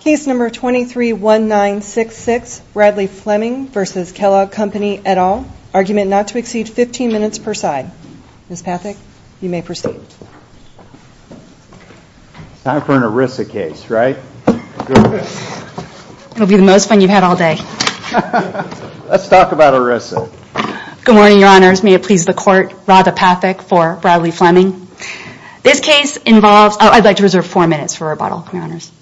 Case number 231966 Bradley Fleming versus Kellogg Company et al. Argument not to exceed 15 minutes per side. Ms. Pathak, you may proceed. Time for an ERISA case, right? It'll be the most fun you've had all day. Let's talk about ERISA. Good morning, your honors. May it please the court, Rada Pathak for Bradley Fleming. This case involves, I'd like to reserve four minutes for rebuttal, your honors.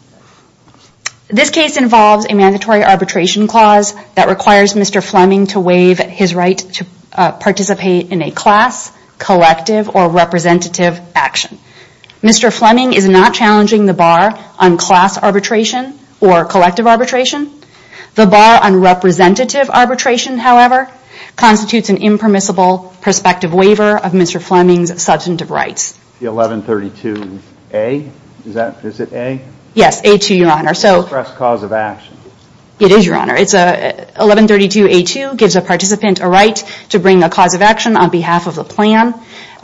This case involves a mandatory arbitration clause that requires Mr. Fleming to waive his right to participate in a class, collective, or representative action. Mr. Fleming is not challenging the bar on class arbitration or collective arbitration. The bar on representative arbitration, however, constitutes an impermissible prospective waiver of Mr. Fleming's substantive rights. The 1132A, is that, is it A? Yes, A2, your honor. So, express cause of action. It is, your honor. It's a 1132A2 gives a participant a right to bring a cause of action on behalf of the plan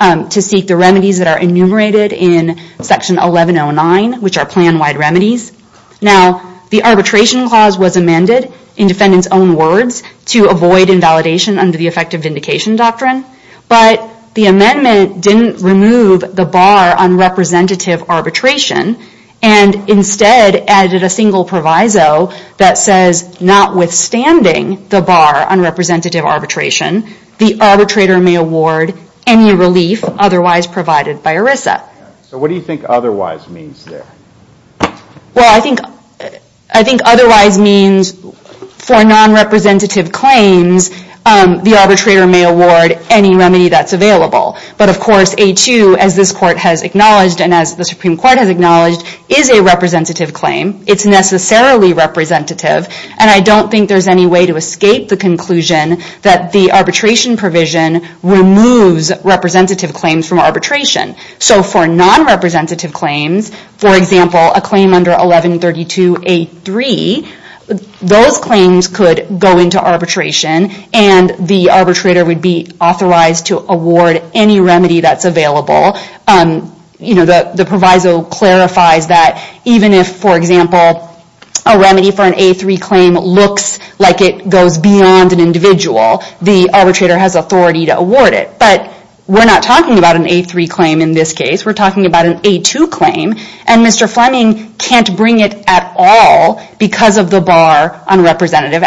to seek the remedies that are enumerated in section 1109, which are plan-wide remedies. Now, the arbitration clause was amended in defendant's own words to avoid invalidation under the effective vindication doctrine, but the amendment didn't remove the bar on representative arbitration and instead added a single proviso that says, notwithstanding the bar on representative arbitration, the arbitrator may award any relief otherwise provided by ERISA. So, what do you think otherwise means there? Well, I think, I think otherwise means for non-representative claims, the arbitrator may award any remedy that's available. But, of course, A2, as this court has acknowledged, and as the Supreme Court has acknowledged, is a representative claim. It's necessarily representative, and I don't think there's any way to escape the conclusion that the arbitration provision removes representative claims from arbitration. So, for non-representative claims, for example, a claim under 1132 A3, those claims could go into arbitration, and the arbitrator would be authorized to award any remedy that's available. You know, the proviso clarifies that even if, for example, a remedy for an A3 claim looks like it goes beyond an individual, the arbitrator has authority to award it. But we're not talking about an A3 claim in this case. We're talking about an A2 claim, and Mr. Fleming can't bring it at all because of the bar on representative,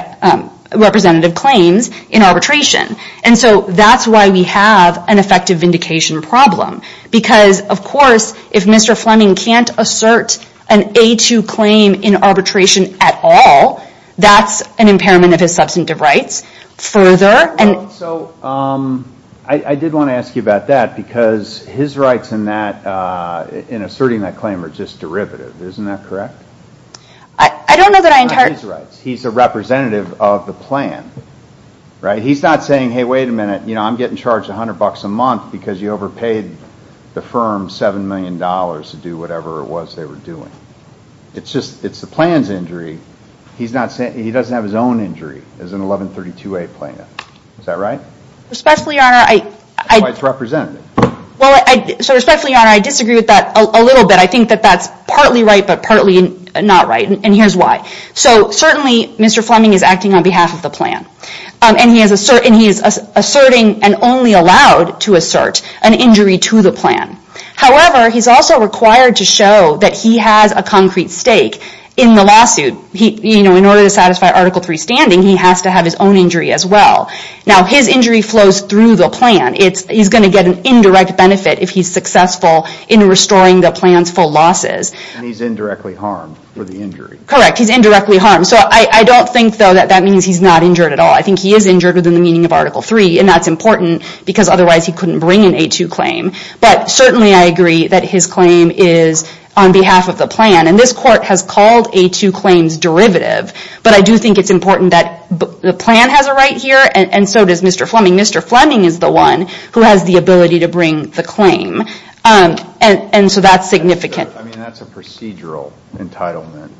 representative claims in arbitration. And so, that's why we have an effective vindication problem. Because, of course, if Mr. Fleming can't assert an A2 claim in arbitration at all, that's an impairment of his substantive rights. So, I did want to ask you about that because his rights in that, in asserting that claim, are just derivative. Isn't that correct? I don't know that I entirely... He's a representative of the plan. Right? He's not saying, hey, wait a minute, you know, I'm getting charged a hundred bucks a month because you overpaid the firm seven million dollars to do whatever it was they were doing. It's just, it's the plan's injury. He's not saying, he doesn't have his own injury as an 1132A plaintiff. Is that right? Respectfully, Your Honor, I... That's why it's representative. Well, so respectfully, Your Honor, I disagree with that a little bit. I think that that's partly right, but partly not right, and here's why. So, certainly, Mr. Fleming is acting on behalf of the plan, and he is asserting and only allowed to assert an injury to the plan. However, he's also required to show that he has a concrete stake in the lawsuit. He, you know, in order to satisfy Article 3 standing, he has to have his own injury as well. Now, his injury flows through the plan. It's, he's going to get an indirect benefit if he's successful in restoring the plan's full losses. And he's indirectly harmed for the injury. Correct. He's indirectly harmed. So, I don't think, though, that that means he's not injured at all. I think he is injured within the meaning of Article 3, and that's important because otherwise he couldn't bring an A2 claim. But, certainly, I agree that his claim is on behalf of the plan, and this court has called A2 claims derivative. But I do think it's important that the plan has a right here, and so does Mr. Fleming. Mr. Fleming is the one who has the ability to bring the claim, and so that's significant. I mean, that's a procedural entitlement.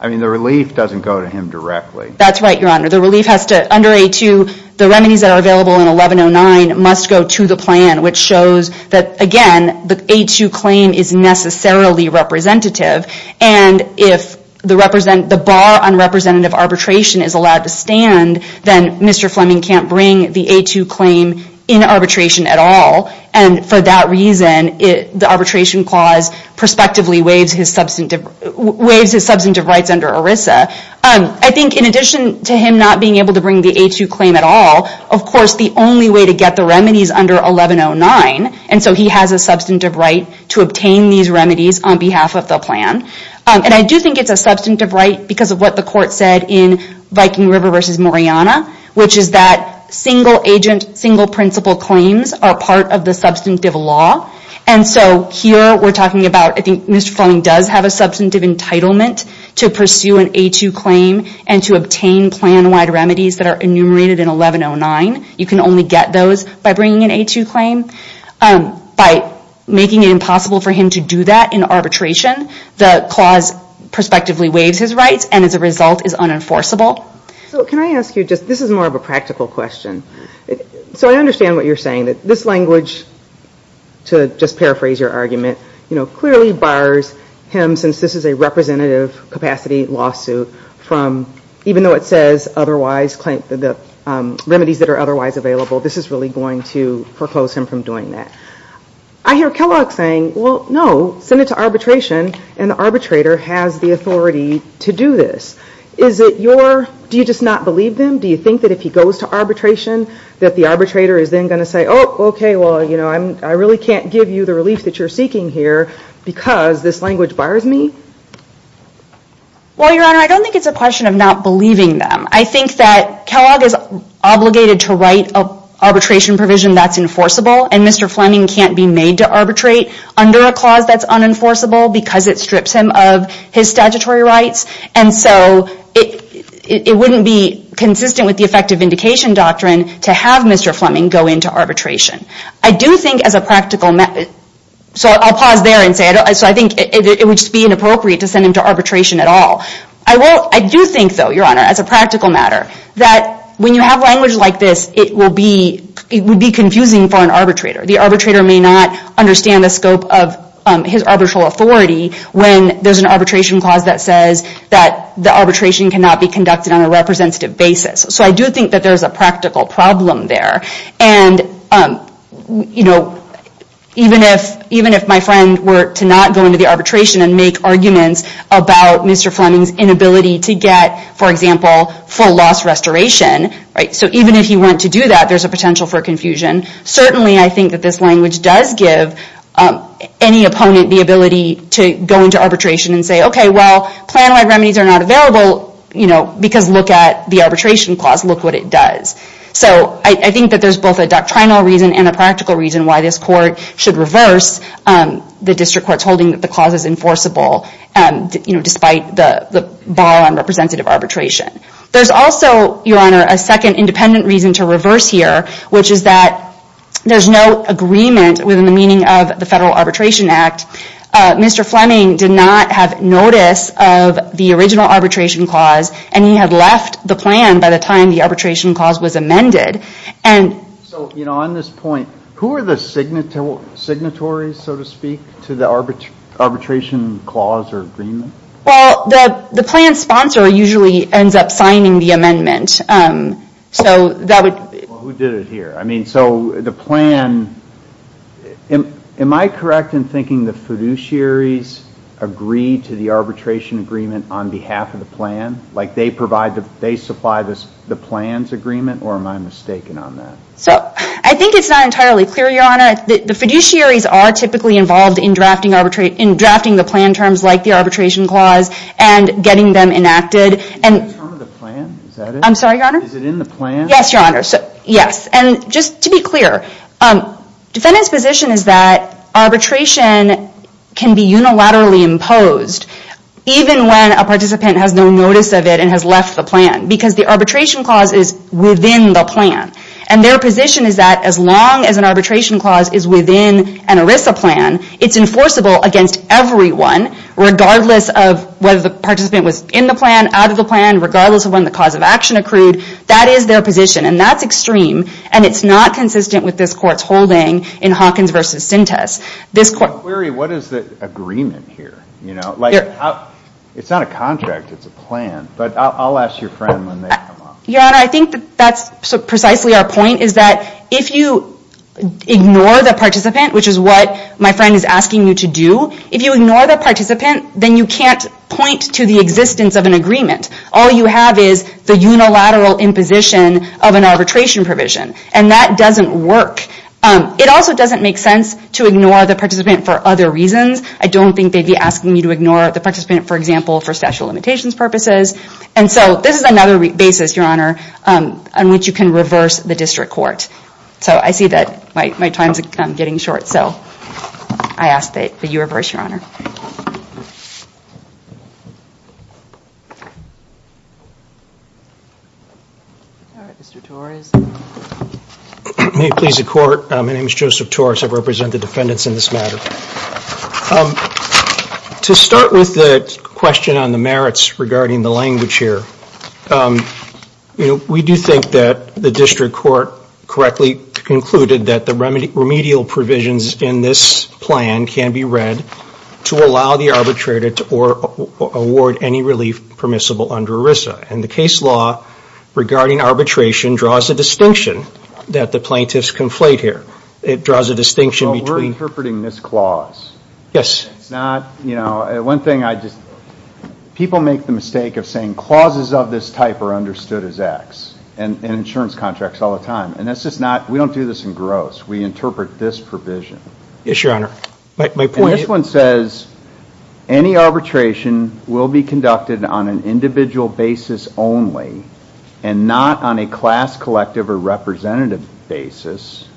I mean, the relief doesn't go to him directly. That's right, Your Honor. The relief has to, under A2, the remedies that are available in 1109 must go to the plan, which shows that, again, the A2 claim is necessarily representative. And if the bar on representative arbitration is allowed to stand, then Mr. Fleming can't bring the A2 claim in arbitration at all. And, for that reason, the arbitration clause prospectively waives his substantive rights under ERISA. I think, in addition to him not being able to bring the A2 claim at all, of course, the only way to get the remedy is under 1109, and so he has a substantive right to obtain these remedies on behalf of the plan. And I do think it's a substantive right because of what the court said in Viking River v. Moriana, which is that single-agent, single-principle claims are part of the substantive law. And so here we're talking about, I think, Mr. Fleming does have a substantive entitlement to pursue an A2 claim and to obtain plan-wide remedies that are enumerated in 1109. You can only get those by bringing an A2 claim. By making it impossible for him to do that in arbitration, the clause prospectively waives his rights and, as a result, is unenforceable. So can I ask you, this is more of a practical question. So I understand what you're saying, that this language, to just paraphrase your argument, clearly bars him, since this is a representative capacity lawsuit, even though it says the remedies that are otherwise available, this is really going to foreclose him from doing that. I hear Kellogg saying, well, no, send it to arbitration, and the arbitrator has the authority to do this. Do you just not believe them? Do you think that if he goes to arbitration that the arbitrator is then going to say, oh, OK, well, I really can't give you the relief that you're seeking here because this language bars me? Well, Your Honor, I don't think it's a question of not believing them. I think that Kellogg is obligated to write an arbitration provision that's enforceable, and Mr. Fleming can't be made to arbitrate under a clause that's unenforceable because it strips him of his statutory rights. And so it wouldn't be consistent with the effective indication doctrine to have Mr. Fleming go into arbitration. I do think as a practical matter, so I'll pause there and say, so I think it would just be inappropriate to send him to arbitration at all. I do think, though, Your Honor, as a practical matter, that when you have language like this, it would be confusing for an arbitrator. The arbitrator may not understand the scope of his arbitral authority when there's an arbitration clause that says that the arbitration cannot be conducted on a representative basis. So I do think that there's a practical problem there. And, you know, even if my friend were to not go into the arbitration and make arguments about Mr. Fleming's inability to get, for example, full loss restoration, so even if he went to do that, there's a potential for confusion. Certainly, I think that this language does give any opponent the ability to go into arbitration and say, OK, well, plan-wide remedies are not available because look at the arbitration clause. Look what it does. So I think that there's both a doctrinal reason and a practical reason why this court should reverse the district court's holding that the clause is enforceable, despite the bar on representative arbitration. There's also, Your Honor, a second independent reason to reverse here, which is that there's no agreement within the meaning of the Federal Arbitration Act. Mr. Fleming did not have notice of the original arbitration clause, and he had left the plan by the time the arbitration clause was amended. So, you know, on this point, who are the signatories, so to speak, to the arbitration clause or agreement? Well, the plan sponsor usually ends up signing the amendment. Well, who did it here? I mean, so the plan, am I correct in thinking the fiduciaries agree to the arbitration agreement on behalf of the plan? Like they supply the plan's agreement, or am I mistaken on that? I think it's not entirely clear, Your Honor. The fiduciaries are typically involved in drafting the plan terms like the arbitration clause and getting them enacted. Is it in the term of the plan? Is that it? I'm sorry, Your Honor? Is it in the plan? Yes, Your Honor. Yes. And just to be clear, defendants' position is that arbitration can be unilaterally imposed, even when a participant has no notice of it and has left the plan, because the arbitration clause is within the plan. And their position is that as long as an arbitration clause is within an ERISA plan, it's enforceable against everyone, regardless of whether the participant was in the plan, out of the plan, regardless of when the cause of action accrued. That is their position, and that's extreme. And it's not consistent with this Court's holding in Hawkins v. Sintas. What is the agreement here? It's not a contract, it's a plan. But I'll ask your friend when they come up. Your Honor, I think that's precisely our point, is that if you ignore the participant, which is what my friend is asking you to do, if you ignore the participant, then you can't point to the existence of an agreement. All you have is the unilateral imposition of an arbitration provision, and that doesn't work. It also doesn't make sense to ignore the participant for other reasons. I don't think they'd be asking you to ignore the participant, for example, for statute of limitations purposes. And so this is another basis, Your Honor, on which you can reverse the district court. So I see that my time is getting short, so I ask that you reverse, Your Honor. Thank you. All right, Mr. Torres. May it please the Court, my name is Joseph Torres. I represent the defendants in this matter. To start with the question on the merits regarding the language here, we do think that the district court correctly concluded that the remedial provisions in this plan can be read to allow the arbitrator to award any relief permissible under ERISA. And the case law regarding arbitration draws a distinction that the plaintiffs conflate here. It draws a distinction between... Well, we're interpreting this clause. Yes. It's not, you know, one thing I just... People make the mistake of saying clauses of this type are understood as X in insurance contracts all the time. And that's just not... We don't do this in gross. We interpret this provision. Yes, Your Honor. My point is... And this one says any arbitration will be conducted on an individual basis only and not on a class, collective, or representative basis.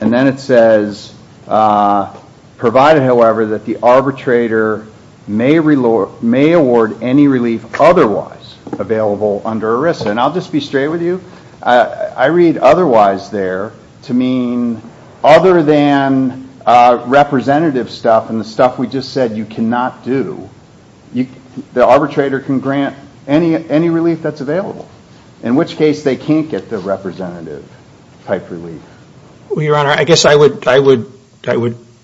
And then it says, provided, however, that the arbitrator may award any relief otherwise available under ERISA. And I'll just be straight with you. I read otherwise there to mean other than representative stuff and the stuff we just said you cannot do. The arbitrator can grant any relief that's available, in which case they can't get the representative type relief. Well, Your Honor, I guess I would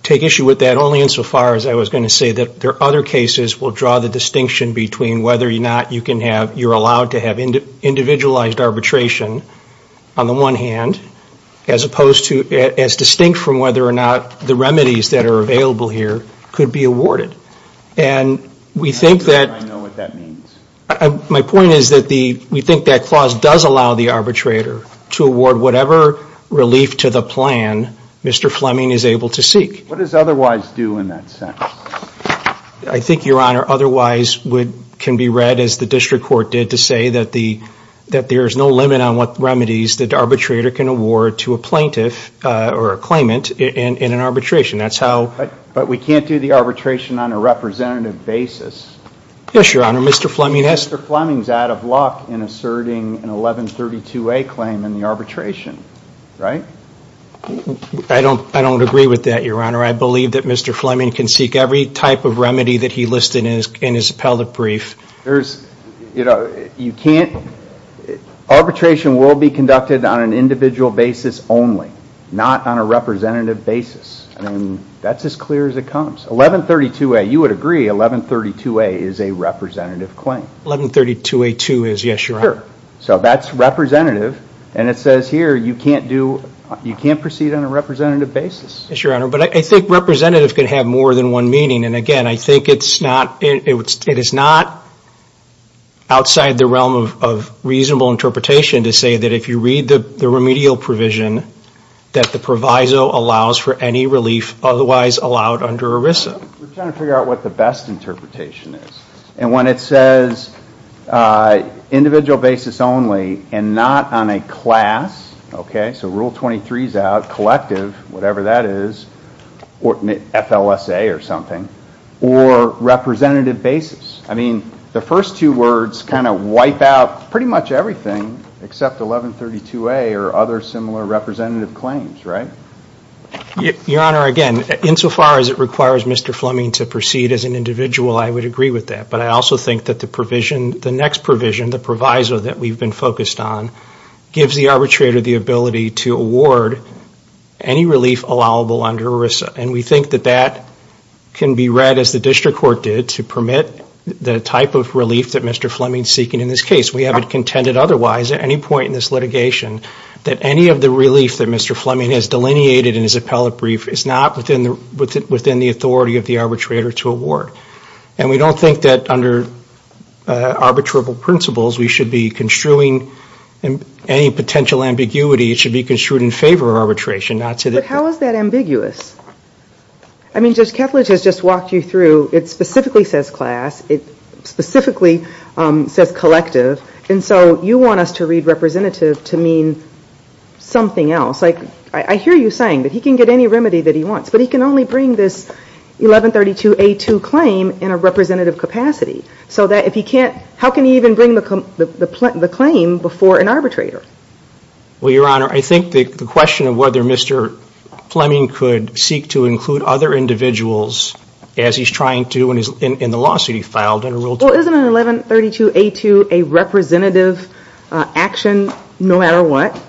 take issue with that only insofar as I was going to say that there are other cases will draw the distinction between whether or not you can have, you're allowed to have individualized arbitration on the one hand, as opposed to as distinct from whether or not the remedies that are available here could be awarded. And we think that... I know what that means. My point is that we think that clause does allow the arbitrator to award whatever relief to the plan Mr. Fleming is able to seek. What does otherwise do in that sense? I think, Your Honor, otherwise can be read as the district court did to say that there is no limit on what remedies the arbitrator can award to a plaintiff or a claimant in an arbitration. That's how... But we can't do the arbitration on a representative basis. Yes, Your Honor, Mr. Fleming has... Mr. Fleming is out of luck in asserting an 1132A claim in the arbitration. Right? I don't agree with that, Your Honor. I believe that Mr. Fleming can seek every type of remedy that he listed in his appellate brief. There's... You know, you can't... Arbitration will be conducted on an individual basis only, not on a representative basis. And that's as clear as it comes. 1132A. You would agree 1132A is a representative claim. 1132A2 is, yes, Your Honor. Sure. So that's representative. And it says here you can't do... You can't proceed on a representative basis. Yes, Your Honor, but I think representative can have more than one meaning. And again, I think it's not... It is not outside the realm of reasonable interpretation to say that if you read the remedial provision that the proviso allows for any relief otherwise allowed under ERISA. We're trying to figure out what the best interpretation is. And when it says individual basis only and not on a class, okay? So Rule 23 is out. Collective, whatever that is, or FLSA or something, or representative basis. I mean, the first two words kind of wipe out pretty much everything except 1132A or other similar representative claims, right? Your Honor, again, insofar as it requires Mr. Fleming to proceed as an individual, I would agree with that. But I also think that the provision, the next provision, the proviso that we've been focused on, gives the arbitrator the ability to award any relief allowable under ERISA. And we think that that can be read as the district court did to permit the type of relief that Mr. Fleming is seeking in this case. We haven't contended otherwise at any point in this litigation that any of the relief that Mr. Fleming has delineated in his appellate brief is not within the authority of the arbitrator to award. And we don't think that under arbitrable principles we should be construing any potential ambiguity. It should be construed in favor of arbitration, not to the court. But how is that ambiguous? I mean, Judge Ketledge has just walked you through. It specifically says class. It specifically says collective. And so you want us to read representative to mean something else. Like, I hear you saying that he can get any remedy that he wants, but he can only bring this 1132A2 claim in a representative capacity. So that if he can't, how can he even bring the claim before an arbitrator? Well, Your Honor, I think the question of whether Mr. Fleming could seek to include other individuals as he's trying to in the lawsuit he filed under Rule 2. Well, isn't an 1132A2 a representative action no matter what?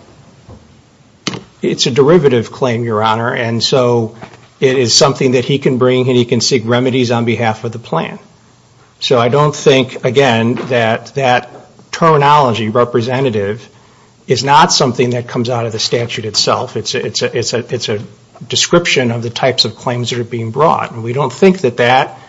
It's a derivative claim, Your Honor, and so it is something that he can bring and he can seek remedies on behalf of the plan. So I don't think, again, that that terminology, representative, is not something that comes out of the statute itself. It's a description of the types of claims that are being brought. And we don't think that that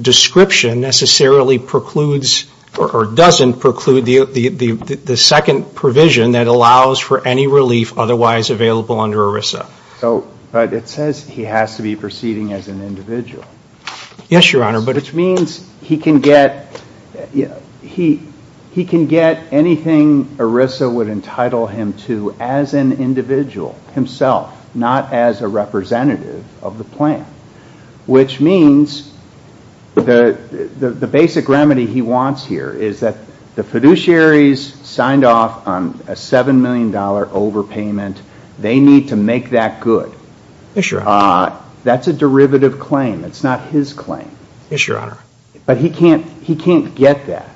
description necessarily precludes or doesn't preclude the second provision that allows for any relief otherwise available under ERISA. But it says he has to be proceeding as an individual. Yes, Your Honor. Which means he can get anything ERISA would entitle him to as an individual himself, not as a representative of the plan, which means the basic remedy he wants here is that the fiduciaries signed off on a $7 million overpayment. They need to make that good. Yes, Your Honor. That's a derivative claim. It's not his claim. Yes, Your Honor. But he can't get that.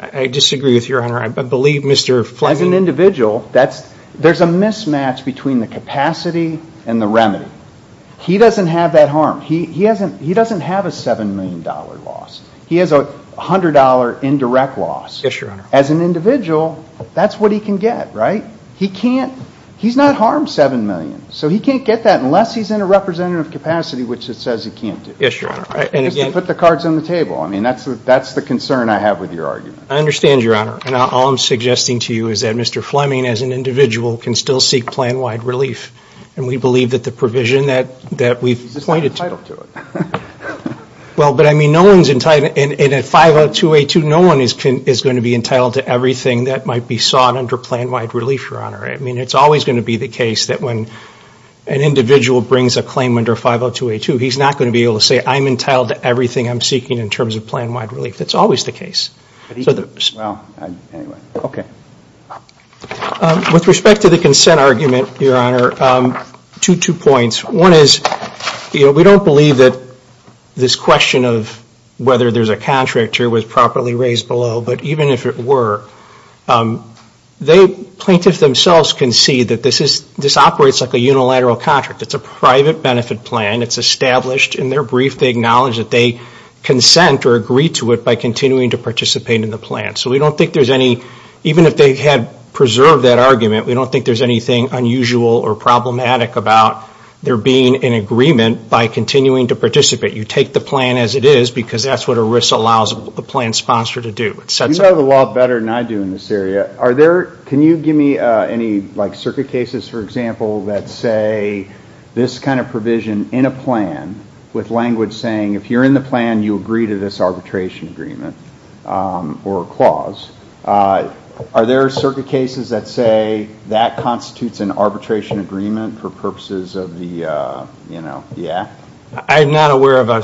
I disagree with you, Your Honor. I believe Mr. Fleming. As an individual, there's a mismatch between the capacity and the remedy. He doesn't have that harm. He doesn't have a $7 million loss. He has a $100 indirect loss. Yes, Your Honor. As an individual, that's what he can get, right? He can't. He's not harmed $7 million, so he can't get that unless he's in a representative capacity, which it says he can't do. Yes, Your Honor. Just to put the cards on the table. I mean, that's the concern I have with your argument. I understand, Your Honor. And all I'm suggesting to you is that Mr. Fleming, as an individual, can still seek plan-wide relief. And we believe that the provision that we've pointed to – He's entitled to it. Well, but I mean, no one's entitled – and at 50282, no one is going to be entitled to everything that might be sought under plan-wide relief, Your Honor. I mean, it's always going to be the case that when an individual brings a claim under 50282, he's not going to be able to say, I'm entitled to everything I'm seeking in terms of plan-wide relief. That's always the case. Well, anyway. Okay. With respect to the consent argument, Your Honor, two points. One is, you know, we don't believe that this question of whether there's a contract here was properly raised below. But even if it were, plaintiffs themselves can see that this operates like a unilateral contract. It's a private benefit plan. It's established in their brief. They acknowledge that they consent or agree to it by continuing to participate in the plan. So we don't think there's any – even if they had preserved that argument, we don't think there's anything unusual or problematic about there being an agreement by continuing to participate. You take the plan as it is because that's what ERISA allows the plan sponsor to do. You know the law better than I do in this area. Are there – can you give me any, like, circuit cases, for example, that say this kind of provision in a plan with language saying if you're in the plan, you agree to this arbitration agreement or clause. Are there circuit cases that say that constitutes an arbitration agreement for purposes of the, you know, the act? I'm not aware of a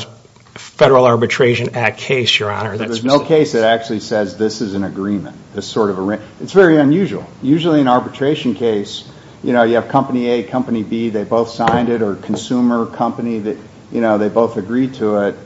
Federal Arbitration Act case, Your Honor. There's no case that actually says this is an agreement, this sort of – it's very unusual. Usually in an arbitration case, you know, you have company A, company B, they both signed it, or a consumer company that, you know, they both agreed to it.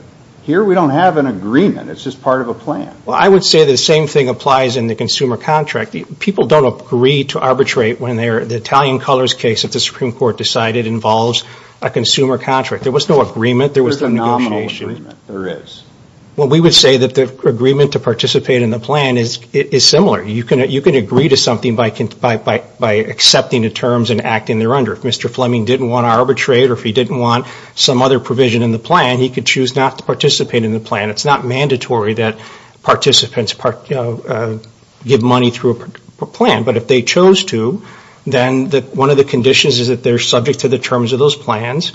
Here we don't have an agreement. It's just part of a plan. Well, I would say the same thing applies in the consumer contract. People don't agree to arbitrate when they're – the Italian Colors case that the Supreme Court decided involves a consumer contract. There was no agreement. There was no negotiation. There's a nominal agreement. There is. Well, we would say that the agreement to participate in the plan is similar. You can agree to something by accepting the terms and acting thereunder. If Mr. Fleming didn't want to arbitrate or if he didn't want some other provision in the plan, he could choose not to participate in the plan. It's not mandatory that participants give money through a plan, but if they chose to, then one of the conditions is that they're subject to the terms of those plans.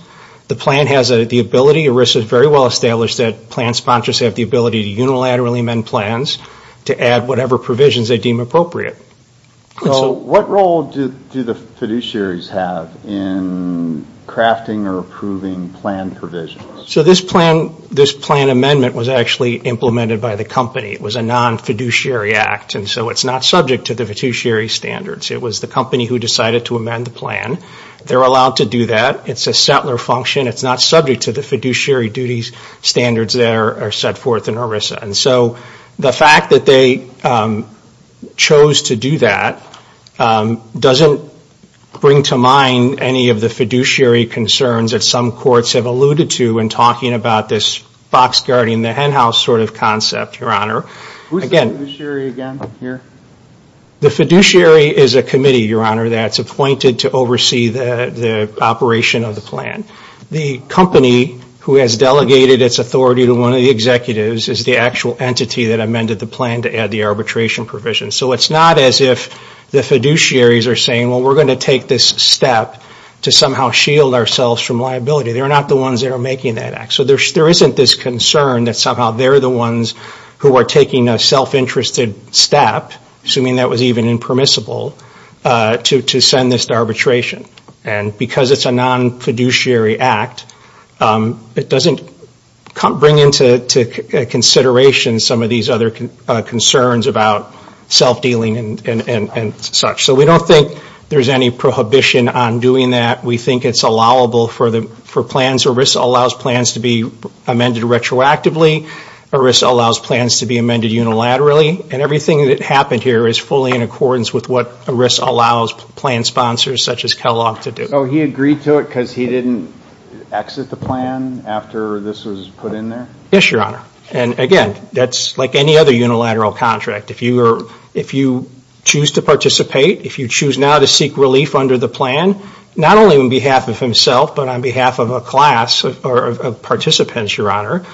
The plan has the ability – ERISA has very well established that plan sponsors have the ability to unilaterally amend plans to add whatever provisions they deem appropriate. So what role do the fiduciaries have in crafting or approving plan provisions? So this plan amendment was actually implemented by the company. It was a non-fiduciary act, and so it's not subject to the fiduciary standards. It was the company who decided to amend the plan. They're allowed to do that. It's a settler function. It's not subject to the fiduciary duties standards that are set forth in ERISA. And so the fact that they chose to do that doesn't bring to mind any of the fiduciary concerns that some courts have alluded to in talking about this box-guarding-the-henhouse sort of concept, Your Honor. Who's the fiduciary again here? The fiduciary is a committee, Your Honor, that's appointed to oversee the operation of the plan. The company who has delegated its authority to one of the executives is the actual entity that amended the plan to add the arbitration provision. So it's not as if the fiduciaries are saying, well, we're going to take this step to somehow shield ourselves from liability. They're not the ones that are making that act. So there isn't this concern that somehow they're the ones who are taking a self-interested step, assuming that was even impermissible, to send this to arbitration. And because it's a non-fiduciary act, it doesn't bring into consideration some of these other concerns about self-dealing and such. So we don't think there's any prohibition on doing that. We think it's allowable for plans. ERISA allows plans to be amended retroactively. ERISA allows plans to be amended unilaterally. And everything that happened here is fully in accordance with what ERISA allows plan sponsors such as Kellogg to do. So he agreed to it because he didn't exit the plan after this was put in there? Yes, Your Honor. And again, that's like any other unilateral contract. If you choose to participate, if you choose now to seek relief under the plan, not only on behalf of himself but on behalf of a class of participants, Your Honor,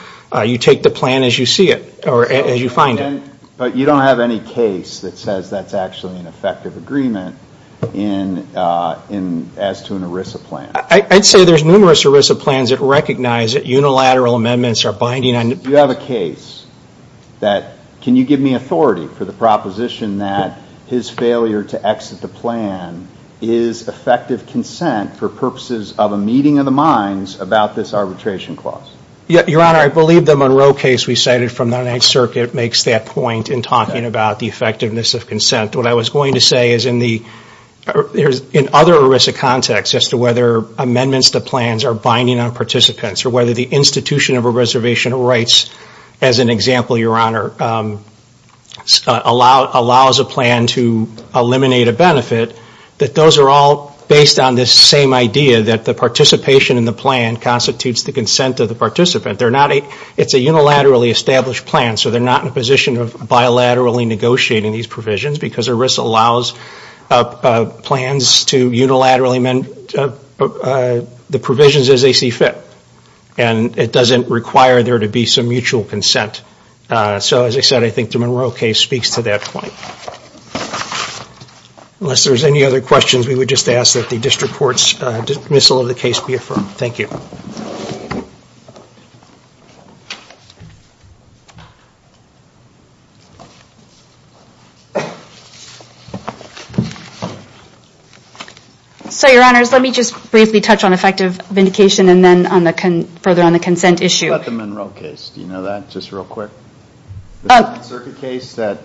you take the plan as you see it or as you find it. But you don't have any case that says that's actually an effective agreement as to an ERISA plan? I'd say there's numerous ERISA plans that recognize that unilateral amendments are binding on the plan. You have a case that, can you give me authority for the proposition that his failure to exit the plan is effective consent for purposes of a meeting of the minds about this arbitration clause? Your Honor, I believe the Monroe case we cited from the Ninth Circuit makes that point in talking about the effectiveness of consent. What I was going to say is in other ERISA contexts as to whether amendments to plans are binding on participants or whether the institution of a reservation of rights, as an example, Your Honor, allows a plan to eliminate a benefit, that those are all based on this same idea that the participation in the plan constitutes the consent of the participant. It's a unilaterally established plan, so they're not in a position of bilaterally negotiating these provisions because ERISA allows plans to unilaterally amend the provisions as they see fit. And it doesn't require there to be some mutual consent. So as I said, I think the Monroe case speaks to that point. Unless there's any other questions, we would just ask that the district court's dismissal of the case be affirmed. Thank you. So, Your Honors, let me just briefly touch on effective vindication and then further on the consent issue. What about the Monroe case? Do you know that? Just real quick. The Ninth Circuit case that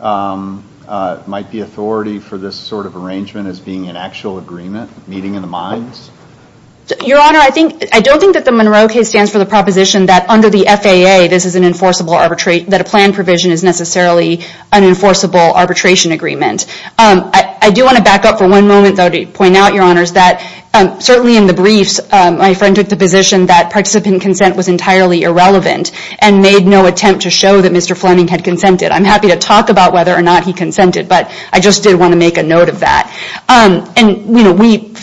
might be authority for this sort of arrangement as being an actual agreement, meeting of the minds? Your Honor, I don't think that the Monroe case stands for the proposition that under the FAA, this is an enforceable arbitration, that a plan provision is necessarily an enforceable arbitration agreement. I do want to back up for one moment, though, to point out, Your Honors, that certainly in the briefs, my friend took the position that participant consent was entirely irrelevant and made no attempt to show that Mr. Fleming had consented. I'm happy to talk about whether or not he consented, but I just did want to make a note of that. We,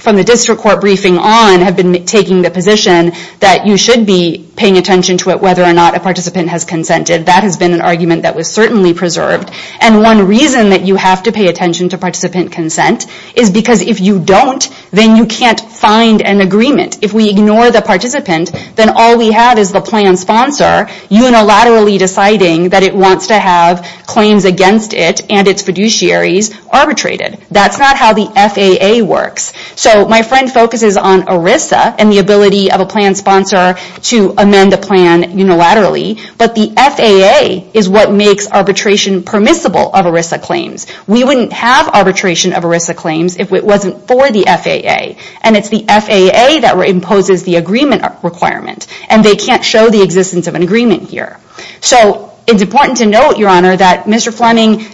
from the district court briefing on, have been taking the position that you should be paying attention to it, whether or not a participant has consented. That has been an argument that was certainly preserved. One reason that you have to pay attention to participant consent is because if you don't, then you can't find an agreement. If we ignore the participant, then all we have is the plan sponsor unilaterally deciding that it wants to have claims against it and its fiduciaries arbitrated. That's not how the FAA works. So my friend focuses on ERISA and the ability of a plan sponsor to amend the plan unilaterally, but the FAA is what makes arbitration permissible of ERISA claims. We wouldn't have arbitration of ERISA claims if it wasn't for the FAA, and it's the FAA that imposes the agreement requirement, and they can't show the existence of an agreement here. So it's important to note, Your Honor, that Mr. Fleming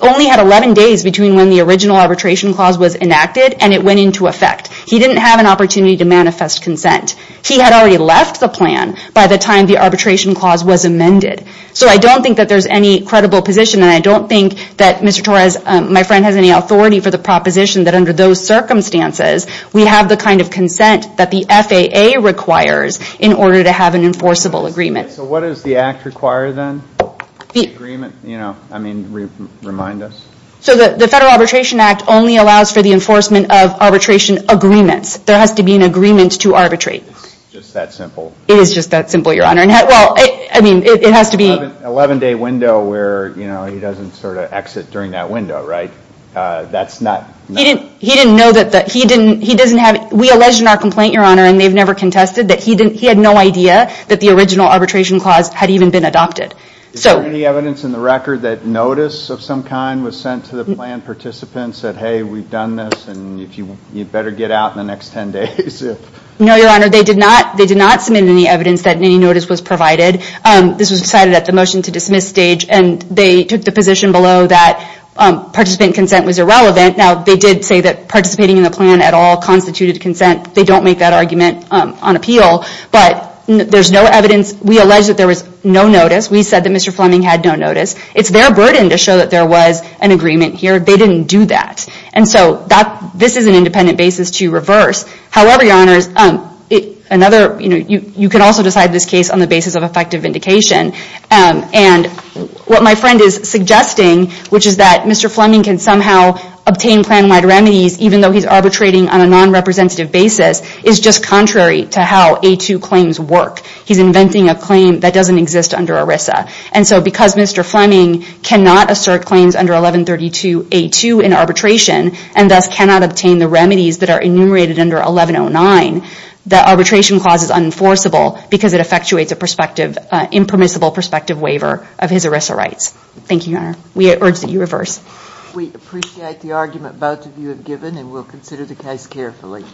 only had 11 days between when the original arbitration clause was enacted, and it went into effect. He didn't have an opportunity to manifest consent. He had already left the plan by the time the arbitration clause was amended. So I don't think that there's any credible position, and I don't think that Mr. Torres, my friend, has any authority for the proposition that under those circumstances, we have the kind of consent that the FAA requires in order to have an enforceable agreement. So what does the act require then? The agreement, you know, I mean, remind us. So the Federal Arbitration Act only allows for the enforcement of arbitration agreements. There has to be an agreement to arbitrate. It's just that simple. It is just that simple, Your Honor. Well, I mean, it has to be. Eleven day window where, you know, he doesn't sort of exit during that window, right? That's not. He didn't know that he didn't, he doesn't have, we alleged in our complaint, Your Honor, and they've never contested that he had no idea that the original arbitration clause had even been adopted. Is there any evidence in the record that notice of some kind was sent to the plan participants that, hey, we've done this, and you'd better get out in the next ten days? No, Your Honor, they did not submit any evidence that any notice was provided. This was decided at the motion to dismiss stage, and they took the position below that participant consent was irrelevant. Now, they did say that participating in the plan at all constituted consent. They don't make that argument on appeal, but there's no evidence. We allege that there was no notice. We said that Mr. Fleming had no notice. It's their burden to show that there was an agreement here. They didn't do that, and so this is an independent basis to reverse. However, Your Honor, another, you know, you can also decide this case on the basis of effective vindication, and what my friend is suggesting, which is that Mr. Fleming can somehow obtain plan-wide remedies, even though he's arbitrating on a non-representative basis, is just contrary to how A-2 claims work. He's inventing a claim that doesn't exist under ERISA, and so because Mr. Fleming cannot assert claims under 1132 A-2 in arbitration and thus cannot obtain the remedies that are enumerated under 1109, the arbitration clause is unenforceable because it effectuates a permissible prospective waiver of his ERISA rights. Thank you, Your Honor. We urge that you reverse. We appreciate the argument both of you have given, and we'll consider the case carefully.